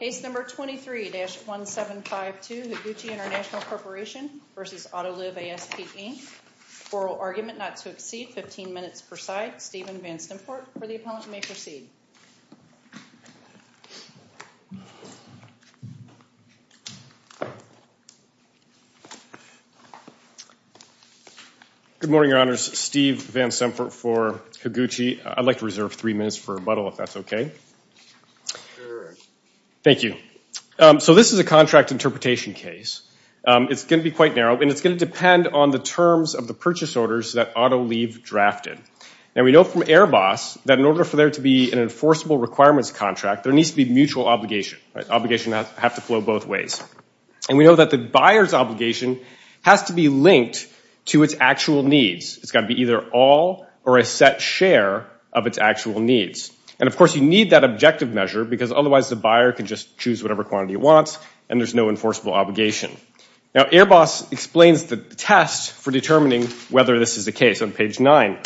Case number 23-1752, Higuchi International Corporation v. Autoliv ASP Inc. Oral argument not to exceed 15 minutes per side. Steven Van Stempert for the appellant, you may proceed. Good morning, Your Honors. Steve Van Stempert for Higuchi. I'd like to reserve three minutes for rebuttal if that's okay. Thank you. So this is a contract interpretation case. It's going to be quite narrow, and it's going to depend on the terms of the purchase orders that Autoliv drafted. And we know from Airbus that in order for there to be an enforceable requirements contract, there needs to be mutual obligation. Obligation has to flow both ways. And we know that the buyer's obligation has to be linked to its actual needs. It's got to be either all or a set share of its actual needs. And, of course, you need that objective measure, because otherwise the buyer can just choose whatever quantity he wants, and there's no enforceable obligation. Now, Airbus explains the test for determining whether this is the case on page nine.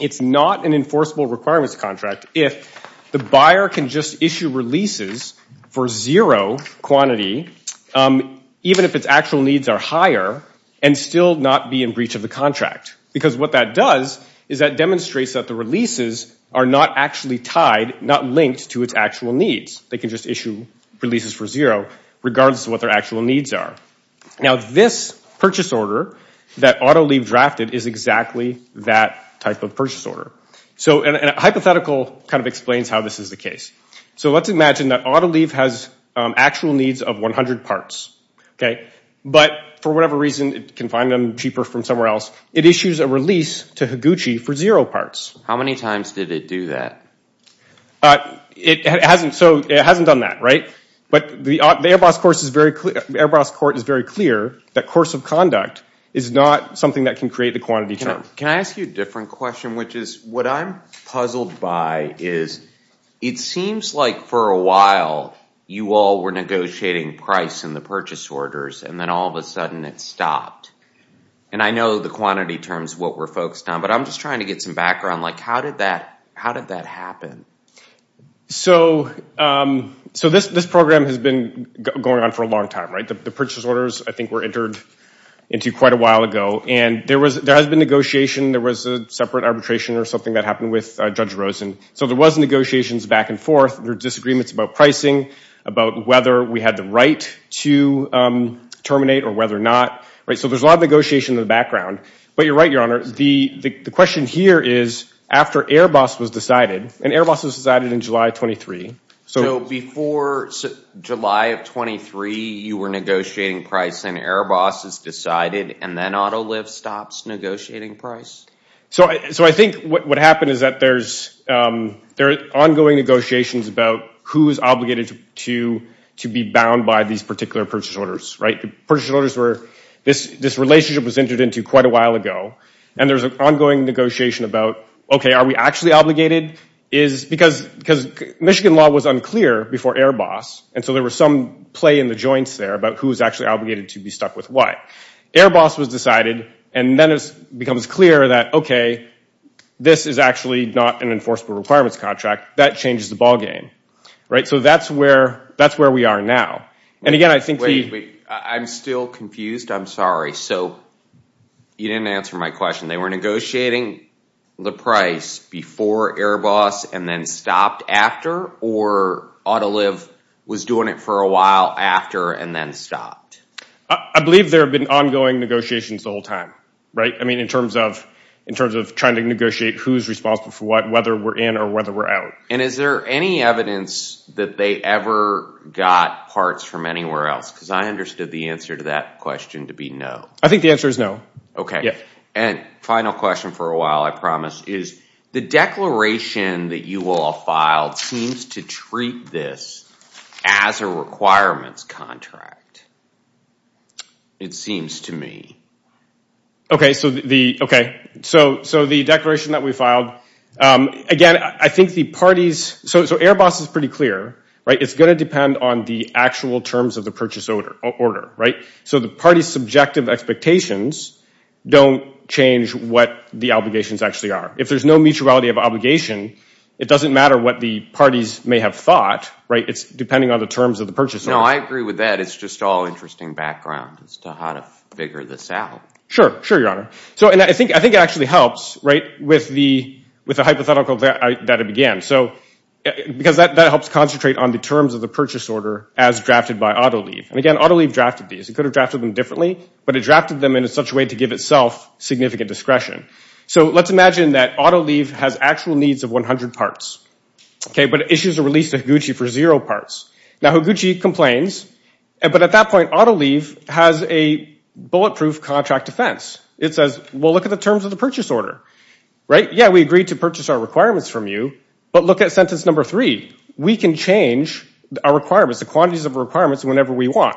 It's not an enforceable requirements contract if the buyer can just issue releases for zero quantity, even if its actual needs are higher, and still not be in breach of the contract. Because what that does is that demonstrates that the releases are not actually tied, not linked to its actual needs. They can just issue releases for zero regardless of what their actual needs are. Now, this purchase order that Autoliv drafted is exactly that type of purchase order. So a hypothetical kind of explains how this is the case. So let's imagine that Autoliv has actual needs of 100 parts. But for whatever reason, it can find them cheaper from somewhere else. It issues a release to Higuchi for zero parts. How many times did it do that? It hasn't. So it hasn't done that, right? But the Airbus court is very clear that course of conduct is not something that can create the quantity term. Can I ask you a different question, which is what I'm puzzled by is it seems like for a while, you all were negotiating price in the purchase orders, and then all of a sudden it stopped. And I know the quantity term is what we're focused on, but I'm just trying to get some background. How did that happen? So this program has been going on for a long time, right? The purchase orders, I think, were entered into quite a while ago. And there has been negotiation. There was a separate arbitration or something that happened with Judge Rosen. So there was negotiations back and forth. There were disagreements about pricing, about whether we had the right to terminate or whether or not. So there's a lot of negotiation in the background. But you're right, Your Honor. The question here is after Airbus was decided, and Airbus was decided on July 23. So before July of 23, you were negotiating price, and Airbus has decided, and then Autolift stops negotiating price? So I think what happened is that there are ongoing negotiations about who is obligated to be bound by these particular purchase orders, right? The purchase orders were this relationship was entered into quite a while ago. And there's an ongoing negotiation about, okay, are we actually obligated? Because Michigan law was unclear before Airbus, and so there was some play in the joints there about who is actually obligated to be stuck with what. Airbus was decided, and then it becomes clear that, okay, this is actually not an enforceable requirements contract. That changes the ballgame, right? So that's where we are now. And again, I think the— Wait, wait. I'm still confused. I'm sorry. So you didn't answer my question. They were negotiating the price before Airbus and then stopped after, or Autolift was doing it for a while after and then stopped? I believe there have been ongoing negotiations the whole time, right? I mean, in terms of trying to negotiate who's responsible for what, whether we're in or whether we're out. And is there any evidence that they ever got parts from anywhere else? Because I understood the answer to that question to be no. I think the answer is no. Okay. And final question for a while, I promise, is the declaration that you all filed seems to treat this as a requirements contract. It seems to me. Okay, so the declaration that we filed, again, I think the parties— so Airbus is pretty clear, right? It's going to depend on the actual terms of the purchase order, right? So the party's subjective expectations don't change what the obligations actually are. If there's no mutuality of obligation, it doesn't matter what the parties may have thought, right? It's depending on the terms of the purchase order. No, I agree with that. It's just all interesting background as to how to figure this out. Sure. Sure, Your Honor. So I think it actually helps, right, with the hypothetical that it began. Because that helps concentrate on the terms of the purchase order as drafted by Autolift. And again, Autolift drafted these. It could have drafted them differently, but it drafted them in such a way to give itself significant discretion. So let's imagine that Autolift has actual needs of 100 parts, okay, but issues a release to Higuchi for zero parts. Now, Higuchi complains, but at that point, Autolift has a bulletproof contract defense. It says, well, look at the terms of the purchase order, right? Yeah, we agree to purchase our requirements from you, but look at sentence number three. We can change our requirements, the quantities of requirements whenever we want.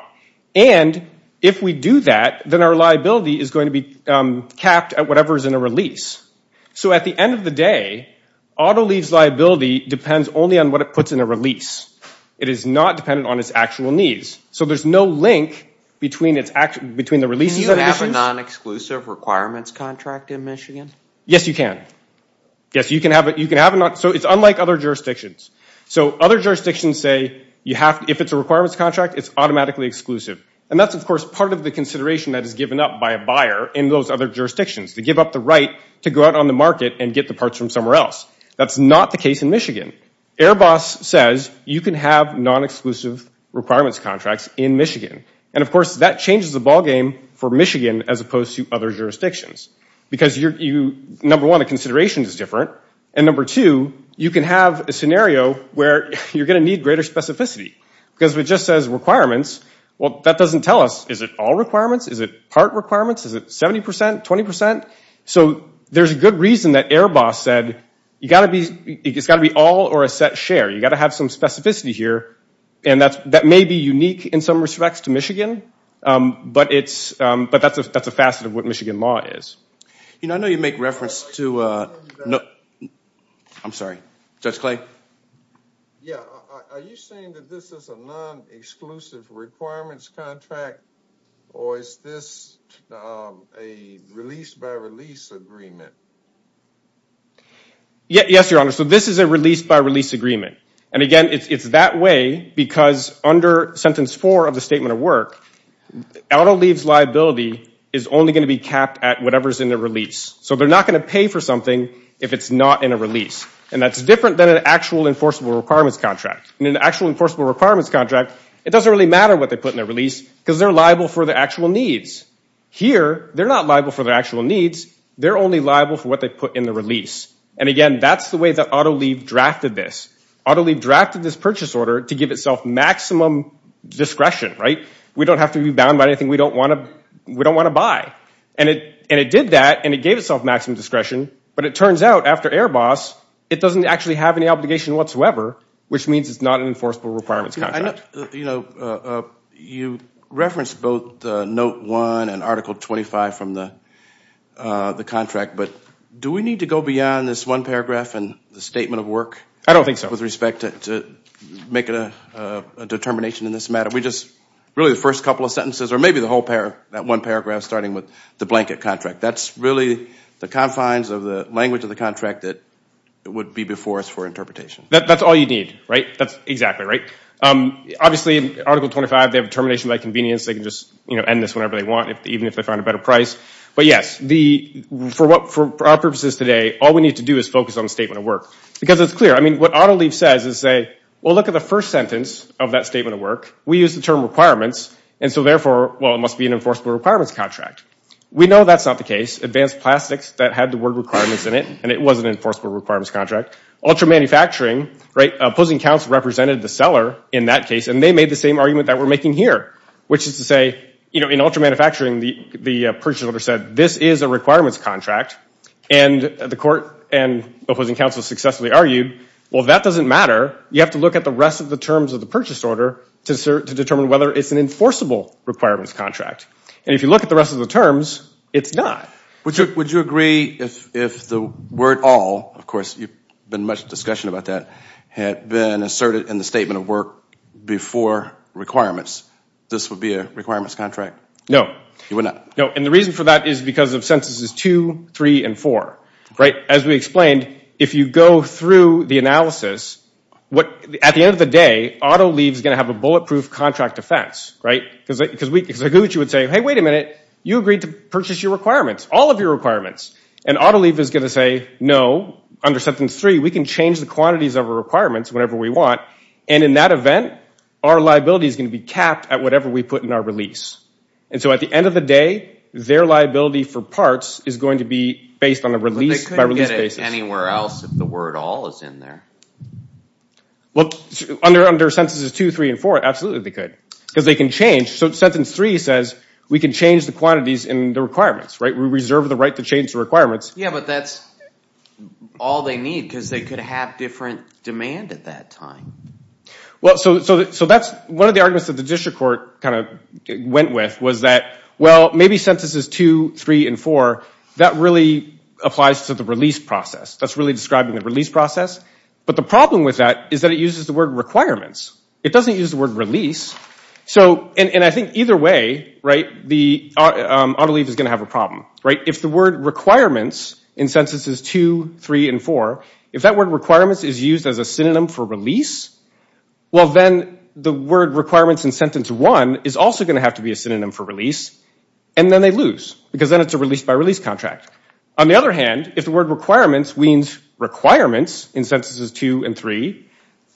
And if we do that, then our liability is going to be capped at whatever is in a release. So at the end of the day, Autolift's liability depends only on what it puts in a release. It is not dependent on its actual needs. So there's no link between the releases of emissions. Can you have a non-exclusive requirements contract in Michigan? Yes, you can. Yes, you can have it. So it's unlike other jurisdictions. So other jurisdictions say if it's a requirements contract, it's automatically exclusive. And that's, of course, part of the consideration that is given up by a buyer in those other jurisdictions, to give up the right to go out on the market and get the parts from somewhere else. That's not the case in Michigan. Airbus says you can have non-exclusive requirements contracts in Michigan. And, of course, that changes the ballgame for Michigan as opposed to other jurisdictions because, number one, the consideration is different. And, number two, you can have a scenario where you're going to need greater specificity because it just says requirements. Well, that doesn't tell us, is it all requirements? Is it part requirements? Is it 70%, 20%? So there's a good reason that Airbus said it's got to be all or a set share. You've got to have some specificity here. And that may be unique in some respects to Michigan, but that's a facet of what Michigan law is. You know, I know you make reference to – I'm sorry. Judge Clay? Yeah, are you saying that this is a non-exclusive requirements contract or is this a release-by-release agreement? Yes, Your Honor. So this is a release-by-release agreement. And, again, it's that way because under sentence four of the Statement of Work, AutoLeave's liability is only going to be capped at whatever's in the release. So they're not going to pay for something if it's not in a release. And that's different than an actual enforceable requirements contract. In an actual enforceable requirements contract, it doesn't really matter what they put in their release because they're liable for their actual needs. Here, they're not liable for their actual needs. They're only liable for what they put in the release. And, again, that's the way that AutoLeave drafted this. AutoLeave drafted this purchase order to give itself maximum discretion, right? We don't have to be bound by anything we don't want to buy. And it did that, and it gave itself maximum discretion. But it turns out after Airbus, it doesn't actually have any obligation whatsoever, which means it's not an enforceable requirements contract. You know, you referenced both Note 1 and Article 25 from the contract. But do we need to go beyond this one paragraph and the statement of work? I don't think so. With respect to making a determination in this matter, we just really the first couple of sentences or maybe the whole paragraph, that one paragraph, starting with the blanket contract. That's really the confines of the language of the contract that would be before us for interpretation. That's all you need, right? That's exactly right. Obviously, Article 25, they have a determination by convenience. They can just end this whenever they want, even if they find a better price. But yes, for our purposes today, all we need to do is focus on the statement of work. Because it's clear. I mean, what Autolieve says is say, well, look at the first sentence of that statement of work. We use the term requirements, and so therefore, well, it must be an enforceable requirements contract. We know that's not the case. Advanced Plastics that had the word requirements in it, and it was an enforceable requirements contract. Ultra Manufacturing, right, opposing counsel represented the seller in that case, and they made the same argument that we're making here, which is to say, you know, in Ultra Manufacturing, the purchase order said this is a requirements contract, and the court and opposing counsel successfully argued, well, that doesn't matter. You have to look at the rest of the terms of the purchase order to determine whether it's an enforceable requirements contract. And if you look at the rest of the terms, it's not. Would you agree if the word all, of course, there's been much discussion about that, had been asserted in the statement of work before requirements, this would be a requirements contract? No. It would not? No, and the reason for that is because of sentences two, three, and four. As we explained, if you go through the analysis, at the end of the day, auto leave is going to have a bulletproof contract offense, right, because a gucci would say, hey, wait a minute, you agreed to purchase your requirements, all of your requirements, and auto leave is going to say, no, under sentence three, we can change the quantities of our requirements whenever we want, and in that event, our liability is going to be capped at whatever we put in our release. And so at the end of the day, their liability for parts is going to be based on a release by release basis. But they couldn't get it anywhere else if the word all is in there. Well, under sentences two, three, and four, absolutely they could, because they can change. So sentence three says, we can change the quantities in the requirements, right? We reserve the right to change the requirements. Yeah, but that's all they need, because they could have different demand at that time. Well, so that's one of the arguments that the district court kind of went with, was that, well, maybe sentences two, three, and four, that really applies to the release process. That's really describing the release process. But the problem with that is that it uses the word requirements. It doesn't use the word release. So, and I think either way, right, the auto leave is going to have a problem, right? If the word requirements in sentences two, three, and four, if that word requirements is used as a synonym for release, well, then the word requirements in sentence one is also going to have to be a synonym for release, and then they lose, because then it's a release by release contract. On the other hand, if the word requirements means requirements in sentences two and three,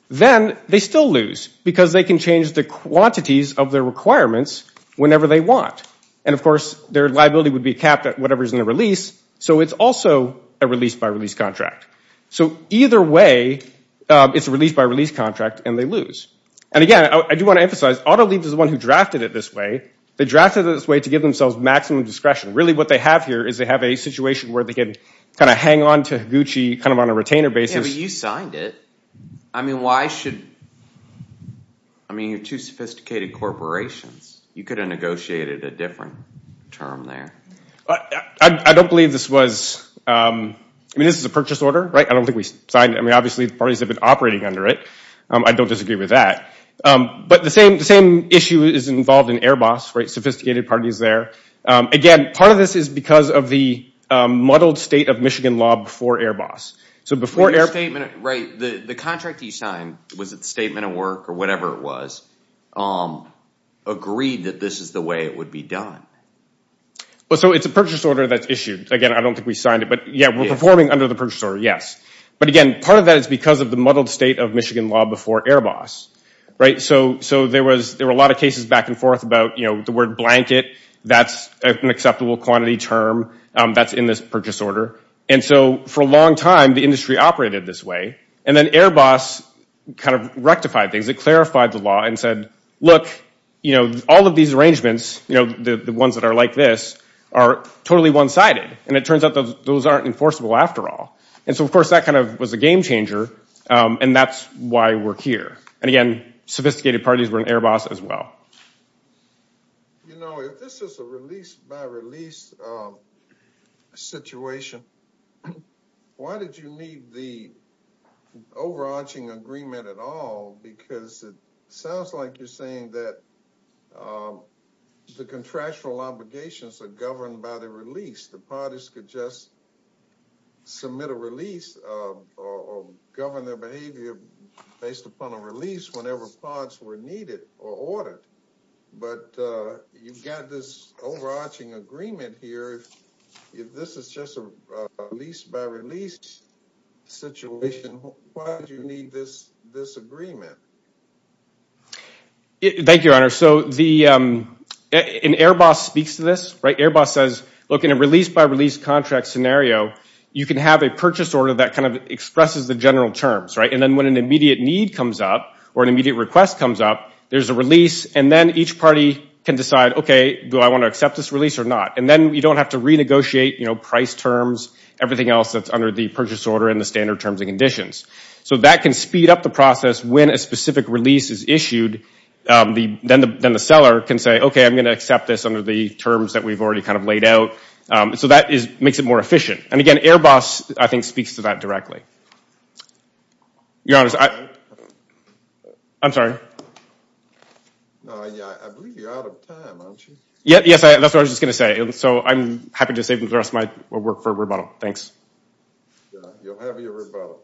then they still lose, because they can change the quantities of their requirements whenever they want. And, of course, their liability would be capped at whatever's in the release, so it's also a release by release contract. So either way, it's a release by release contract, and they lose. And, again, I do want to emphasize, auto leave is the one who drafted it this way. They drafted it this way to give themselves maximum discretion. Really what they have here is they have a situation where they can kind of hang on to Gucci kind of on a retainer basis. Yeah, but you signed it. I mean, why should, I mean, you're two sophisticated corporations. You could have negotiated a different term there. I don't believe this was, I mean, this is a purchase order, right? I don't think we signed it. I mean, obviously the parties have been operating under it. I don't disagree with that. But the same issue is involved in Airbus, right? Sophisticated parties there. Again, part of this is because of the muddled state of Michigan law before Airbus. So before Airbus. Right, the contract that you signed, was it statement of work or whatever it was, agreed that this is the way it would be done. So it's a purchase order that's issued. Again, I don't think we signed it. But, yeah, we're performing under the purchase order, yes. But, again, part of that is because of the muddled state of Michigan law before Airbus. So there were a lot of cases back and forth about the word blanket. That's an acceptable quantity term that's in this purchase order. And so for a long time the industry operated this way. And then Airbus kind of rectified things. It clarified the law and said, look, all of these arrangements, the ones that are like this, are totally one-sided. And it turns out those aren't enforceable after all. And so, of course, that kind of was a game changer. And that's why we're here. And, again, sophisticated parties were in Airbus as well. You know, if this is a release-by-release situation, why did you need the overarching agreement at all? Because it sounds like you're saying that the contractual obligations are governed by the release. The parties could just submit a release or govern their behavior based upon a release whenever parts were needed or ordered. But you've got this overarching agreement here. If this is just a release-by-release situation, why did you need this agreement? Thank you, Your Honor. So Airbus speaks to this. Airbus says, look, in a release-by-release contract scenario, you can have a purchase order that kind of expresses the general terms. And then when an immediate need comes up or an immediate request comes up, there's a release. And then each party can decide, okay, do I want to accept this release or not? And then you don't have to renegotiate price terms, everything else that's under the purchase order and the standard terms and conditions. So that can speed up the process when a specific release is issued. Then the seller can say, okay, I'm going to accept this under the terms that we've already kind of laid out. So that makes it more efficient. And, again, Airbus, I think, speaks to that directly. Your Honor, I'm sorry. No, I believe you're out of time, aren't you? Yes, that's what I was just going to say. So I'm happy to save the rest of my work for rebuttal. Thanks. You'll have your rebuttal.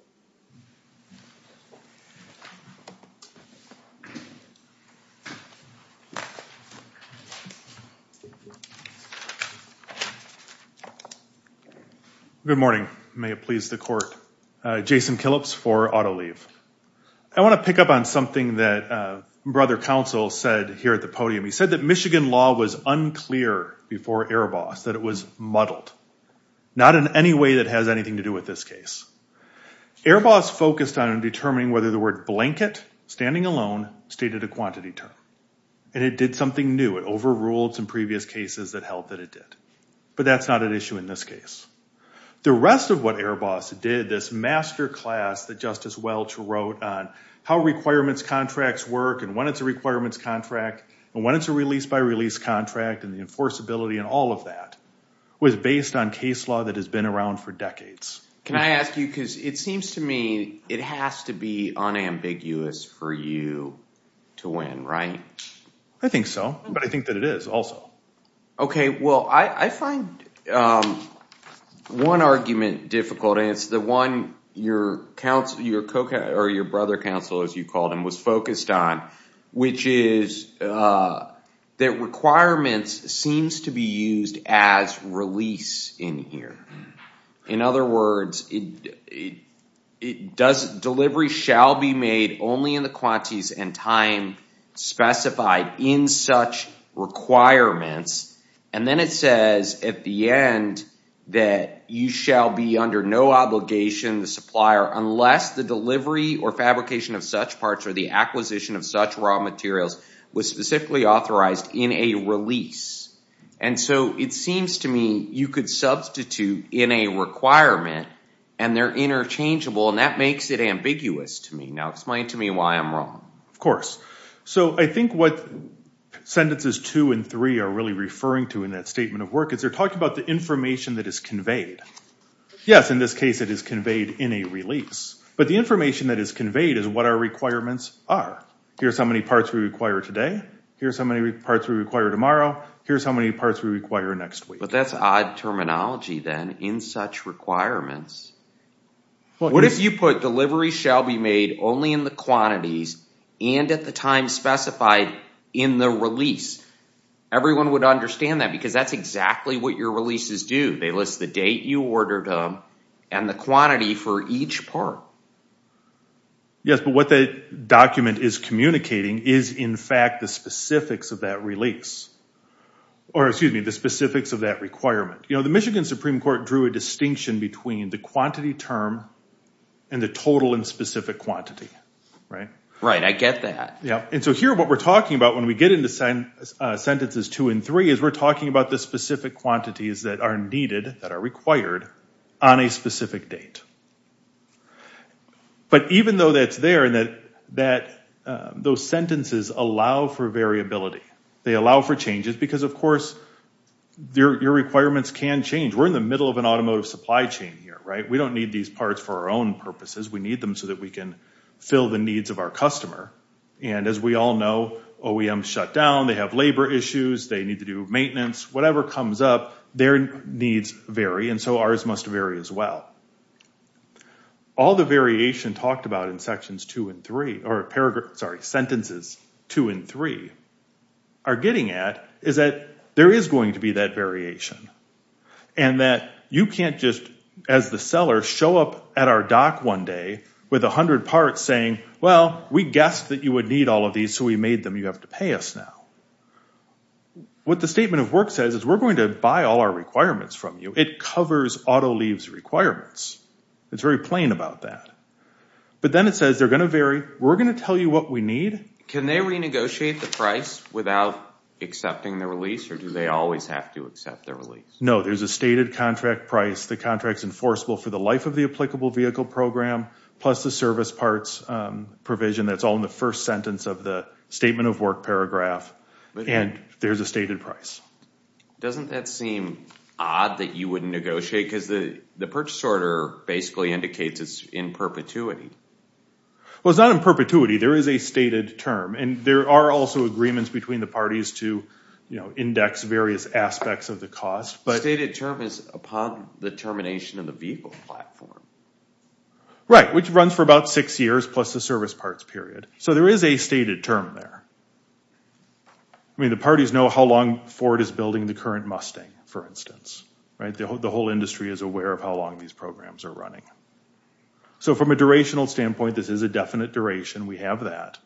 Good morning. May it please the Court. Jason Killips for AutoLeave. I want to pick up on something that Brother Counsel said here at the podium. He said that Michigan law was unclear before Airbus, that it was muddled, not in any way that has anything to do with this case. Airbus focused on determining whether the word blanket, standing alone, stated a quantity term. And it did something new. It overruled some previous cases that held that it did. But that's not an issue in this case. The rest of what Airbus did, this master class that Justice Welch wrote on how requirements contracts work and when it's a requirements contract and when it's a release-by-release contract and the enforceability and all of that, was based on case law that has been around for decades. Can I ask you, because it seems to me it has to be unambiguous for you to win, right? I think so. But I think that it is also. Okay. Well, I find one argument difficult, and it's the one your Brother Counsel, as you called him, was focused on, which is that requirements seems to be used as release in here. In other words, delivery shall be made only in the quantities and time specified in such requirements. And then it says at the end that you shall be under no obligation, the supplier, unless the delivery or fabrication of such parts or the acquisition of such raw materials was specifically authorized in a release. And so it seems to me you could substitute in a requirement, and they're interchangeable, and that makes it ambiguous to me. Now explain to me why I'm wrong. Of course. So I think what sentences two and three are really referring to in that statement of work is they're talking about the information that is conveyed. Yes, in this case it is conveyed in a release. But the information that is conveyed is what our requirements are. Here's how many parts we require today. Here's how many parts we require tomorrow. Here's how many parts we require next week. But that's odd terminology then, in such requirements. What if you put delivery shall be made only in the quantities and at the time specified in the release? Everyone would understand that because that's exactly what your releases do. They list the date you ordered them and the quantity for each part. Yes, but what the document is communicating is, in fact, the specifics of that release or, excuse me, the specifics of that requirement. The Michigan Supreme Court drew a distinction between the quantity term and the total and specific quantity. Right, I get that. And so here what we're talking about when we get into sentences two and three is we're talking about the specific quantities that are needed, that are required, on a specific date. But even though that's there and that those sentences allow for variability, they allow for changes because, of course, your requirements can change. We're in the middle of an automotive supply chain here, right? We don't need these parts for our own purposes. We need them so that we can fill the needs of our customer. And as we all know, OEMs shut down. They have labor issues. They need to do maintenance. Whatever comes up, their needs vary. And so ours must vary as well. All the variation talked about in sections two and three or sentences two and three are getting at is that there is going to be that variation and that you can't just, as the seller, show up at our dock one day with 100 parts saying, well, we guessed that you would need all of these, so we made them. You have to pay us now. What the Statement of Work says is we're going to buy all our requirements from you. It covers auto leaves requirements. It's very plain about that. But then it says they're going to vary. We're going to tell you what we need. Can they renegotiate the price without accepting the release, or do they always have to accept the release? No, there's a stated contract price. The contract's enforceable for the life of the applicable vehicle program plus the service parts provision. That's all in the first sentence of the Statement of Work paragraph, and there's a stated price. Doesn't that seem odd that you wouldn't negotiate? Because the purchase order basically indicates it's in perpetuity. Well, it's not in perpetuity. There is a stated term, and there are also agreements between the parties to index various aspects of the cost. The stated term is upon the termination of the vehicle platform. Right, which runs for about six years plus the service parts period. So there is a stated term there. I mean, the parties know how long Ford is building the current Mustang, for instance, right? The whole industry is aware of how long these programs are running. So from a durational standpoint, this is a definite duration. We have that.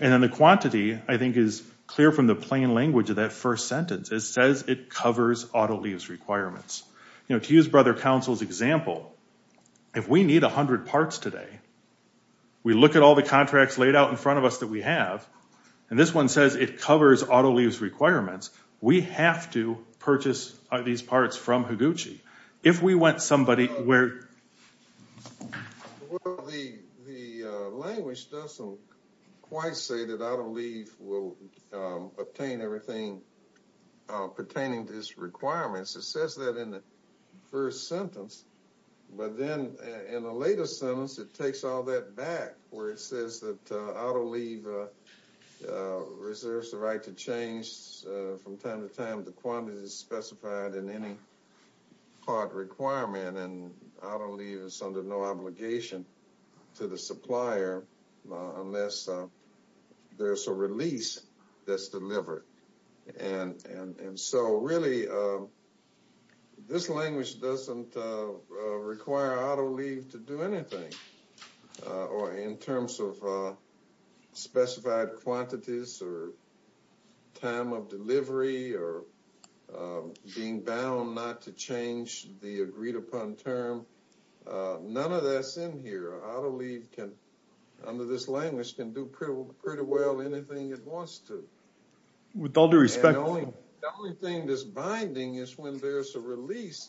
And then the quantity, I think, is clear from the plain language of that first sentence. It says it covers auto lease requirements. You know, to use Brother Counsel's example, if we need 100 parts today, we look at all the contracts laid out in front of us that we have, and this one says it covers auto lease requirements, we have to purchase these parts from Higuchi. If we went somebody where... Well, the language doesn't quite say that auto lease will obtain everything pertaining to its requirements. It says that in the first sentence. But then in a later sentence, it takes all that back, where it says that auto leave reserves the right to change from time to time the quantity specified in any part requirement, and auto leave is under no obligation to the supplier unless there's a release that's delivered. And so really, this language doesn't require auto leave to do anything in terms of specified quantities or time of delivery or being bound not to change the agreed-upon term. None of that's in here. Under this language, it can do pretty well anything it wants to. With all due respect... The only thing that's binding is when there's a release.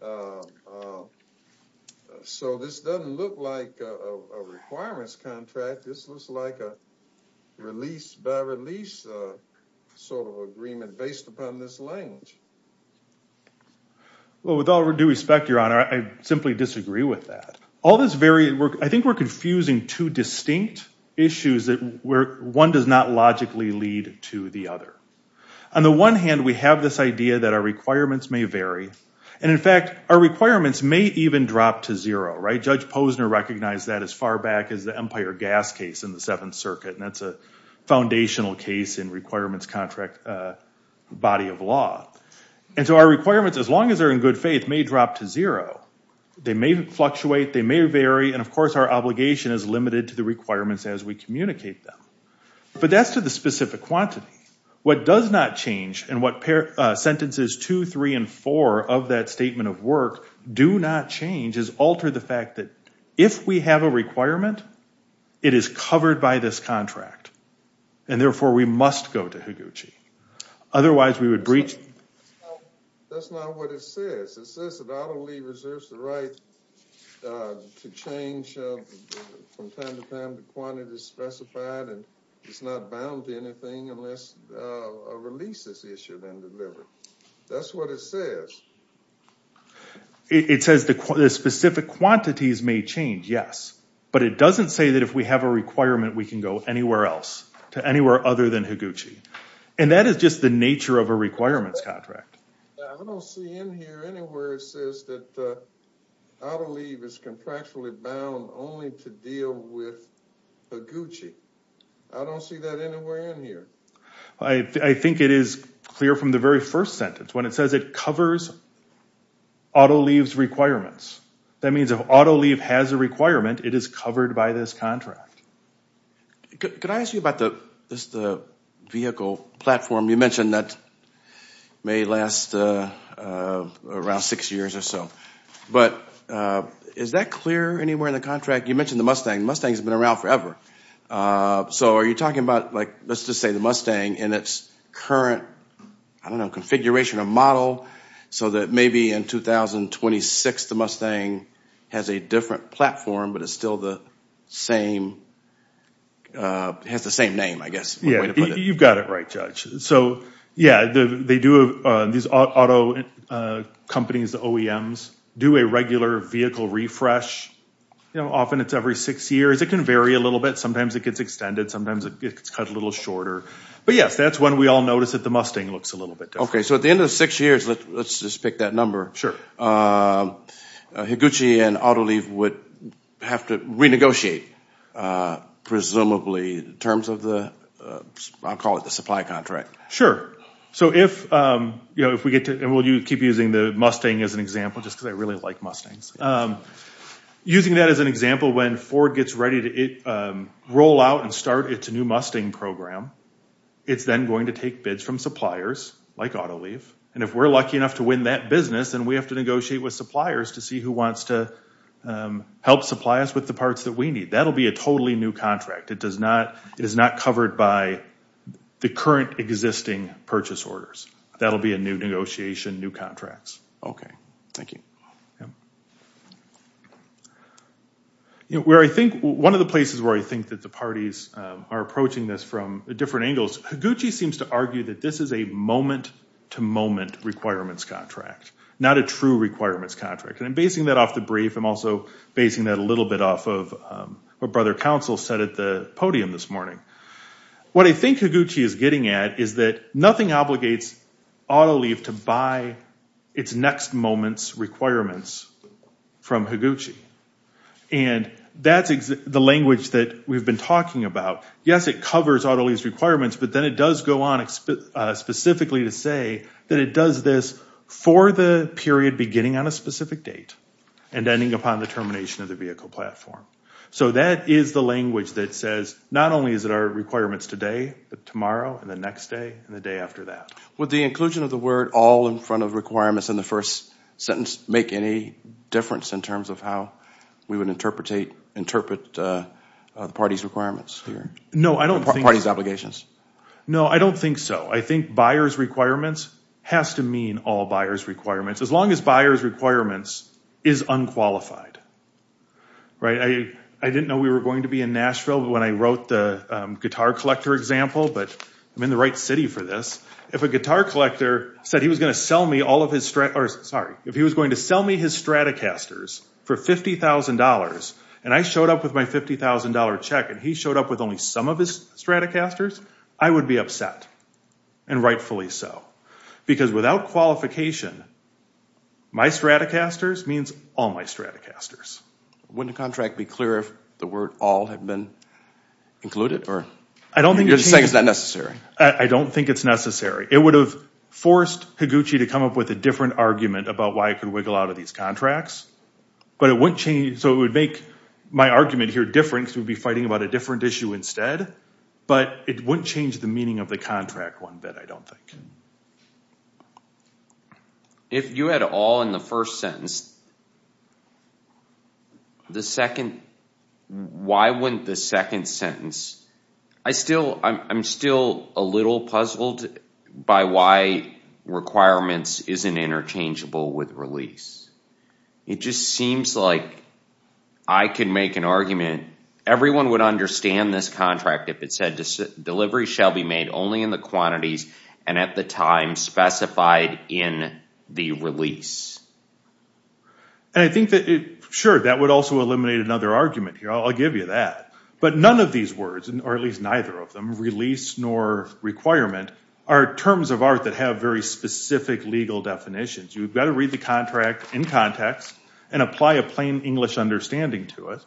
So this doesn't look like a requirements contract. This looks like a release-by-release sort of agreement based upon this language. Well, with all due respect, Your Honor, I simply disagree with that. I think we're confusing two distinct issues where one does not logically lead to the other. On the one hand, we have this idea that our requirements may vary, and in fact, our requirements may even drop to zero. Judge Posner recognized that as far back as the Empire Gas case in the Seventh Circuit, and that's a foundational case in requirements contract body of law. And so our requirements, as long as they're in good faith, may drop to zero. They may fluctuate. They may vary. And, of course, our obligation is limited to the requirements as we communicate them. But that's to the specific quantity. What does not change, and what sentences 2, 3, and 4 of that statement of work do not change is alter the fact that if we have a requirement, it is covered by this contract, and therefore we must go to Higuchi. Otherwise, we would breach... That's not what it says. It says that I don't believe reserves the right to change from time to time the quantity specified, and it's not bound to anything unless a release is issued and delivered. That's what it says. It says the specific quantities may change, yes, but it doesn't say that if we have a requirement, we can go anywhere else, to anywhere other than Higuchi. And that is just the nature of a requirements contract. I don't see in here anywhere it says that auto leave is contractually bound only to deal with Higuchi. I don't see that anywhere in here. I think it is clear from the very first sentence. When it says it covers auto leave's requirements, that means if auto leave has a requirement, it is covered by this contract. Could I ask you about the vehicle platform? You mentioned that it may last around six years or so. But is that clear anywhere in the contract? You mentioned the Mustang. The Mustang has been around forever. So are you talking about, like, let's just say the Mustang and its current, I don't know, configuration or model, so that maybe in 2026 the Mustang has a different platform but it still has the same name, I guess. You've got it right, Judge. So, yeah, these auto companies, the OEMs, do a regular vehicle refresh. Often it's every six years. It can vary a little bit. Sometimes it gets extended. Sometimes it gets cut a little shorter. But, yes, that's when we all notice that the Mustang looks a little bit different. Okay. So at the end of six years, let's just pick that number, Higuchi and auto leave would have to renegotiate, presumably, in terms of the, I'll call it the supply contract. Sure. So if we get to, and we'll keep using the Mustang as an example just because I really like Mustangs. Using that as an example, when Ford gets ready to roll out and start its new Mustang program, it's then going to take bids from suppliers like auto leave. And if we're lucky enough to win that business, then we have to negotiate with suppliers to see who wants to help supply us with the parts that we need. That'll be a totally new contract. It is not covered by the current existing purchase orders. That'll be a new negotiation, new contracts. Thank you. Yeah. Where I think, one of the places where I think that the parties are approaching this from different angles, Higuchi seems to argue that this is a moment-to-moment requirements contract, not a true requirements contract. And I'm basing that off the brief. I'm also basing that a little bit off of what Brother Counsel said at the podium this morning. What I think Higuchi is getting at is that nothing obligates auto leave to buy its next moment's requirements from Higuchi. And that's the language that we've been talking about. Yes, it covers auto leave's requirements, but then it does go on specifically to say that it does this for the period beginning on a specific date and ending upon the termination of the vehicle platform. So that is the language that says not only is it our requirements today, but tomorrow and the next day and the day after that. Would the inclusion of the word all in front of requirements in the first sentence make any difference in terms of how we would interpret the party's requirements here? No, I don't think so. Or the party's obligations? No, I don't think so. I think buyer's requirements has to mean all buyer's requirements. As long as buyer's requirements is unqualified. I didn't know we were going to be in Nashville when I wrote the guitar collector example, but I'm in the right city for this. If a guitar collector said he was going to sell me all of his Stratocasters for $50,000 and I showed up with my $50,000 check and he showed up with only some of his Stratocasters, I would be upset, and rightfully so. Because without qualification, my Stratocasters means all my Stratocasters. Wouldn't a contract be clearer if the word all had been included? You're just saying it's not necessary. I don't think it's necessary. It would have forced Higuchi to come up with a different argument about why it could wiggle out of these contracts, but it wouldn't change. So it would make my argument here different because we'd be fighting about a different issue instead, but it wouldn't change the meaning of the contract one bit, I don't think. If you had all in the first sentence, why wouldn't the second sentence? I'm still a little puzzled by why requirements isn't interchangeable with release. It just seems like I could make an argument. Everyone would understand this contract if it said, delivery shall be made only in the quantities and at the time specified in the release. Sure, that would also eliminate another argument here. I'll give you that. But none of these words, or at least neither of them, release nor requirement are terms of art that have very specific legal definitions. You've got to read the contract in context and apply a plain English understanding to it,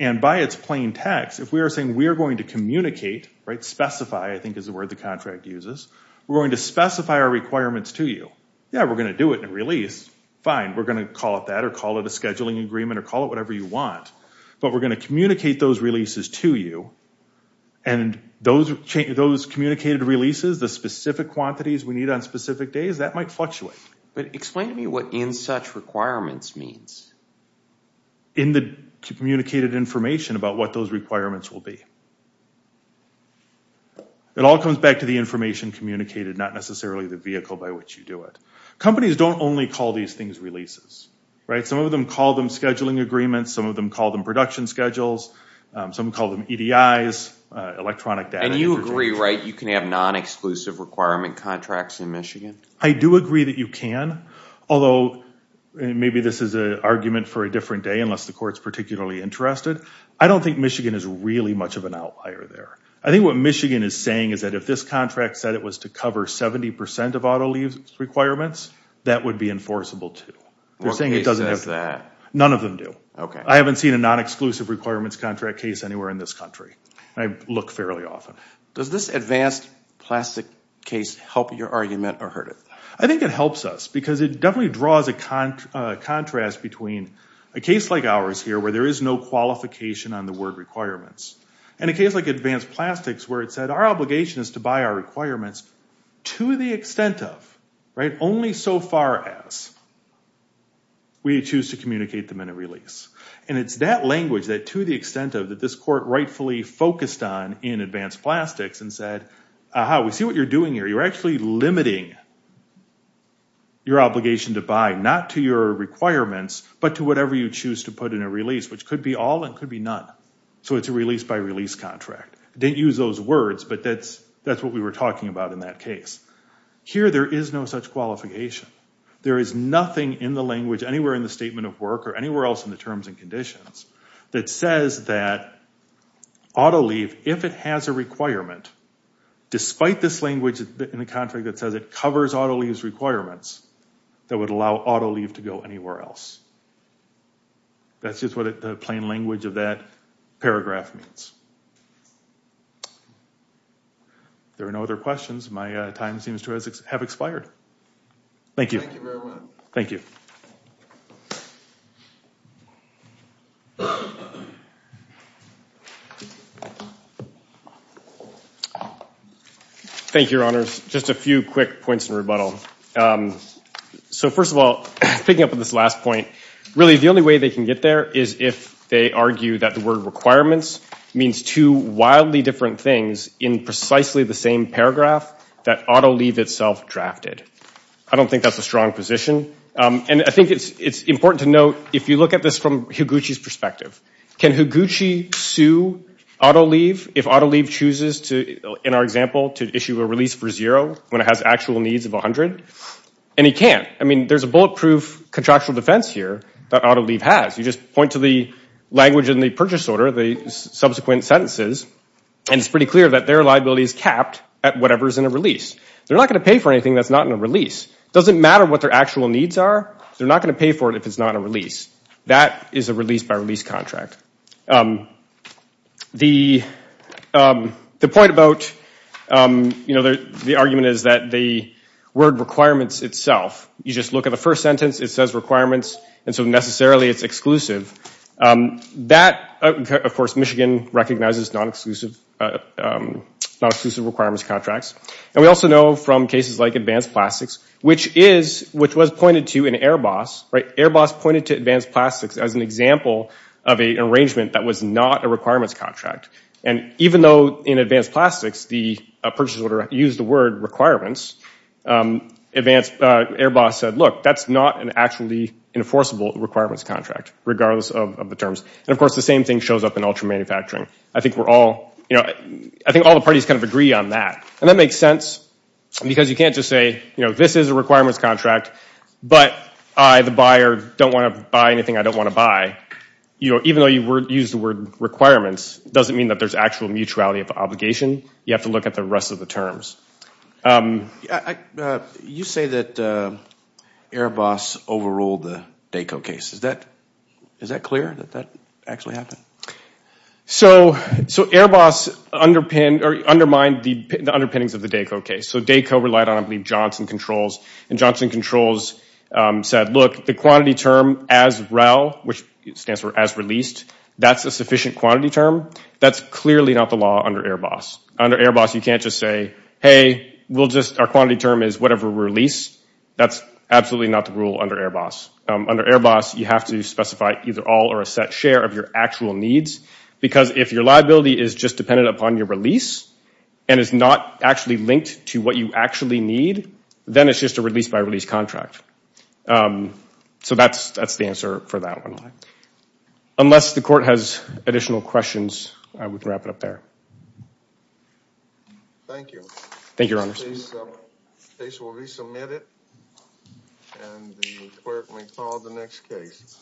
and by its plain text, if we are saying we are going to communicate, specify I think is the word the contract uses, we're going to specify our requirements to you. Yeah, we're going to do it in a release. Fine, we're going to call it that or call it a scheduling agreement or call it whatever you want. But we're going to communicate those releases to you, and those communicated releases, the specific quantities we need on specific days, that might fluctuate. But explain to me what in such requirements means. In the communicated information about what those requirements will be. It all comes back to the information communicated, not necessarily the vehicle by which you do it. Companies don't only call these things releases. Some of them call them scheduling agreements. Some of them call them production schedules. Some call them EDIs, electronic data. And you agree, right, you can have non-exclusive requirement contracts in Michigan? I do agree that you can, although maybe this is an argument for a different day unless the court's particularly interested. I don't think Michigan is really much of an outlier there. I think what Michigan is saying is that if this contract said it was to cover 70% of auto lease requirements, that would be enforceable too. What case says that? None of them do. I haven't seen a non-exclusive requirements contract case anywhere in this country. I look fairly often. Does this advanced plastic case help your argument or hurt it? I think it helps us because it definitely draws a contrast between a case like ours here where there is no qualification on the word requirements and a case like advanced plastics where it said our obligation is to buy our requirements to the extent of, right, only so far as we choose to communicate them in a release. And it's that language, that to the extent of, that this court rightfully focused on in advanced plastics and said, ah-ha, we see what you're doing here. You're actually limiting your obligation to buy not to your requirements but to whatever you choose to put in a release, which could be all and could be none. So it's a release-by-release contract. I didn't use those words, but that's what we were talking about in that case. Here there is no such qualification. There is nothing in the language anywhere in the statement of work or anywhere else in the terms and conditions that says that auto leave, if it has a requirement, despite this language in the contract that says it covers auto leave's requirements, that would allow auto leave to go anywhere else. That's just what the plain language of that paragraph means. If there are no other questions, my time seems to have expired. Thank you. Thank you very much. Thank you. Thank you, Your Honors. Just a few quick points in rebuttal. So first of all, picking up on this last point, really the only way they can get there is if they argue that the word requirements means two wildly different things in precisely the same paragraph that auto leave itself drafted. I don't think that's a strong position. And I think it's important to note, if you look at this from Higuchi's perspective, can Higuchi sue auto leave if auto leave chooses, in our example, to issue a release for zero when it has actual needs of 100? And he can't. I mean, there's a bulletproof contractual defense here that auto leave has. You just point to the language in the purchase order, the subsequent sentences, and it's pretty clear that their liability is capped at whatever is in a release. They're not going to pay for anything that's not in a release. It doesn't matter what their actual needs are. They're not going to pay for it if it's not a release. That is a release-by-release contract. The point about, you know, the argument is that the word requirements itself, you just look at the first sentence, it says requirements, and so necessarily it's exclusive. That, of course, Michigan recognizes non-exclusive requirements contracts. And we also know from cases like advanced plastics, which was pointed to in Airbus. Airbus pointed to advanced plastics as an example of an arrangement that was not a requirements contract. And even though in advanced plastics the purchase order used the word requirements, Airbus said, look, that's not an actually enforceable requirements contract, regardless of the terms. And, of course, the same thing shows up in ultra-manufacturing. I think we're all, you know, I think all the parties kind of agree on that. And that makes sense because you can't just say, you know, this is a requirements contract, but I, the buyer, don't want to buy anything I don't want to buy. You know, even though you use the word requirements, it doesn't mean that there's actual mutuality of obligation. You have to look at the rest of the terms. You say that Airbus overruled the Dayco case. Is that clear that that actually happened? So Airbus undermined the underpinnings of the Dayco case. So Dayco relied on, I believe, Johnson Controls. And Johnson Controls said, look, the quantity term as rel, which stands for as released, that's a sufficient quantity term. That's clearly not the law under Airbus. Under Airbus you can't just say, hey, we'll just, our quantity term is whatever we release. That's absolutely not the rule under Airbus. Under Airbus you have to specify either all or a set share of your actual needs, because if your liability is just dependent upon your release and is not actually linked to what you actually need, then it's just a release-by-release contract. So that's the answer for that one. Unless the court has additional questions, we can wrap it up there. Thank you. Thank you, Your Honor. The case will resubmit it, and the clerk may call the next case.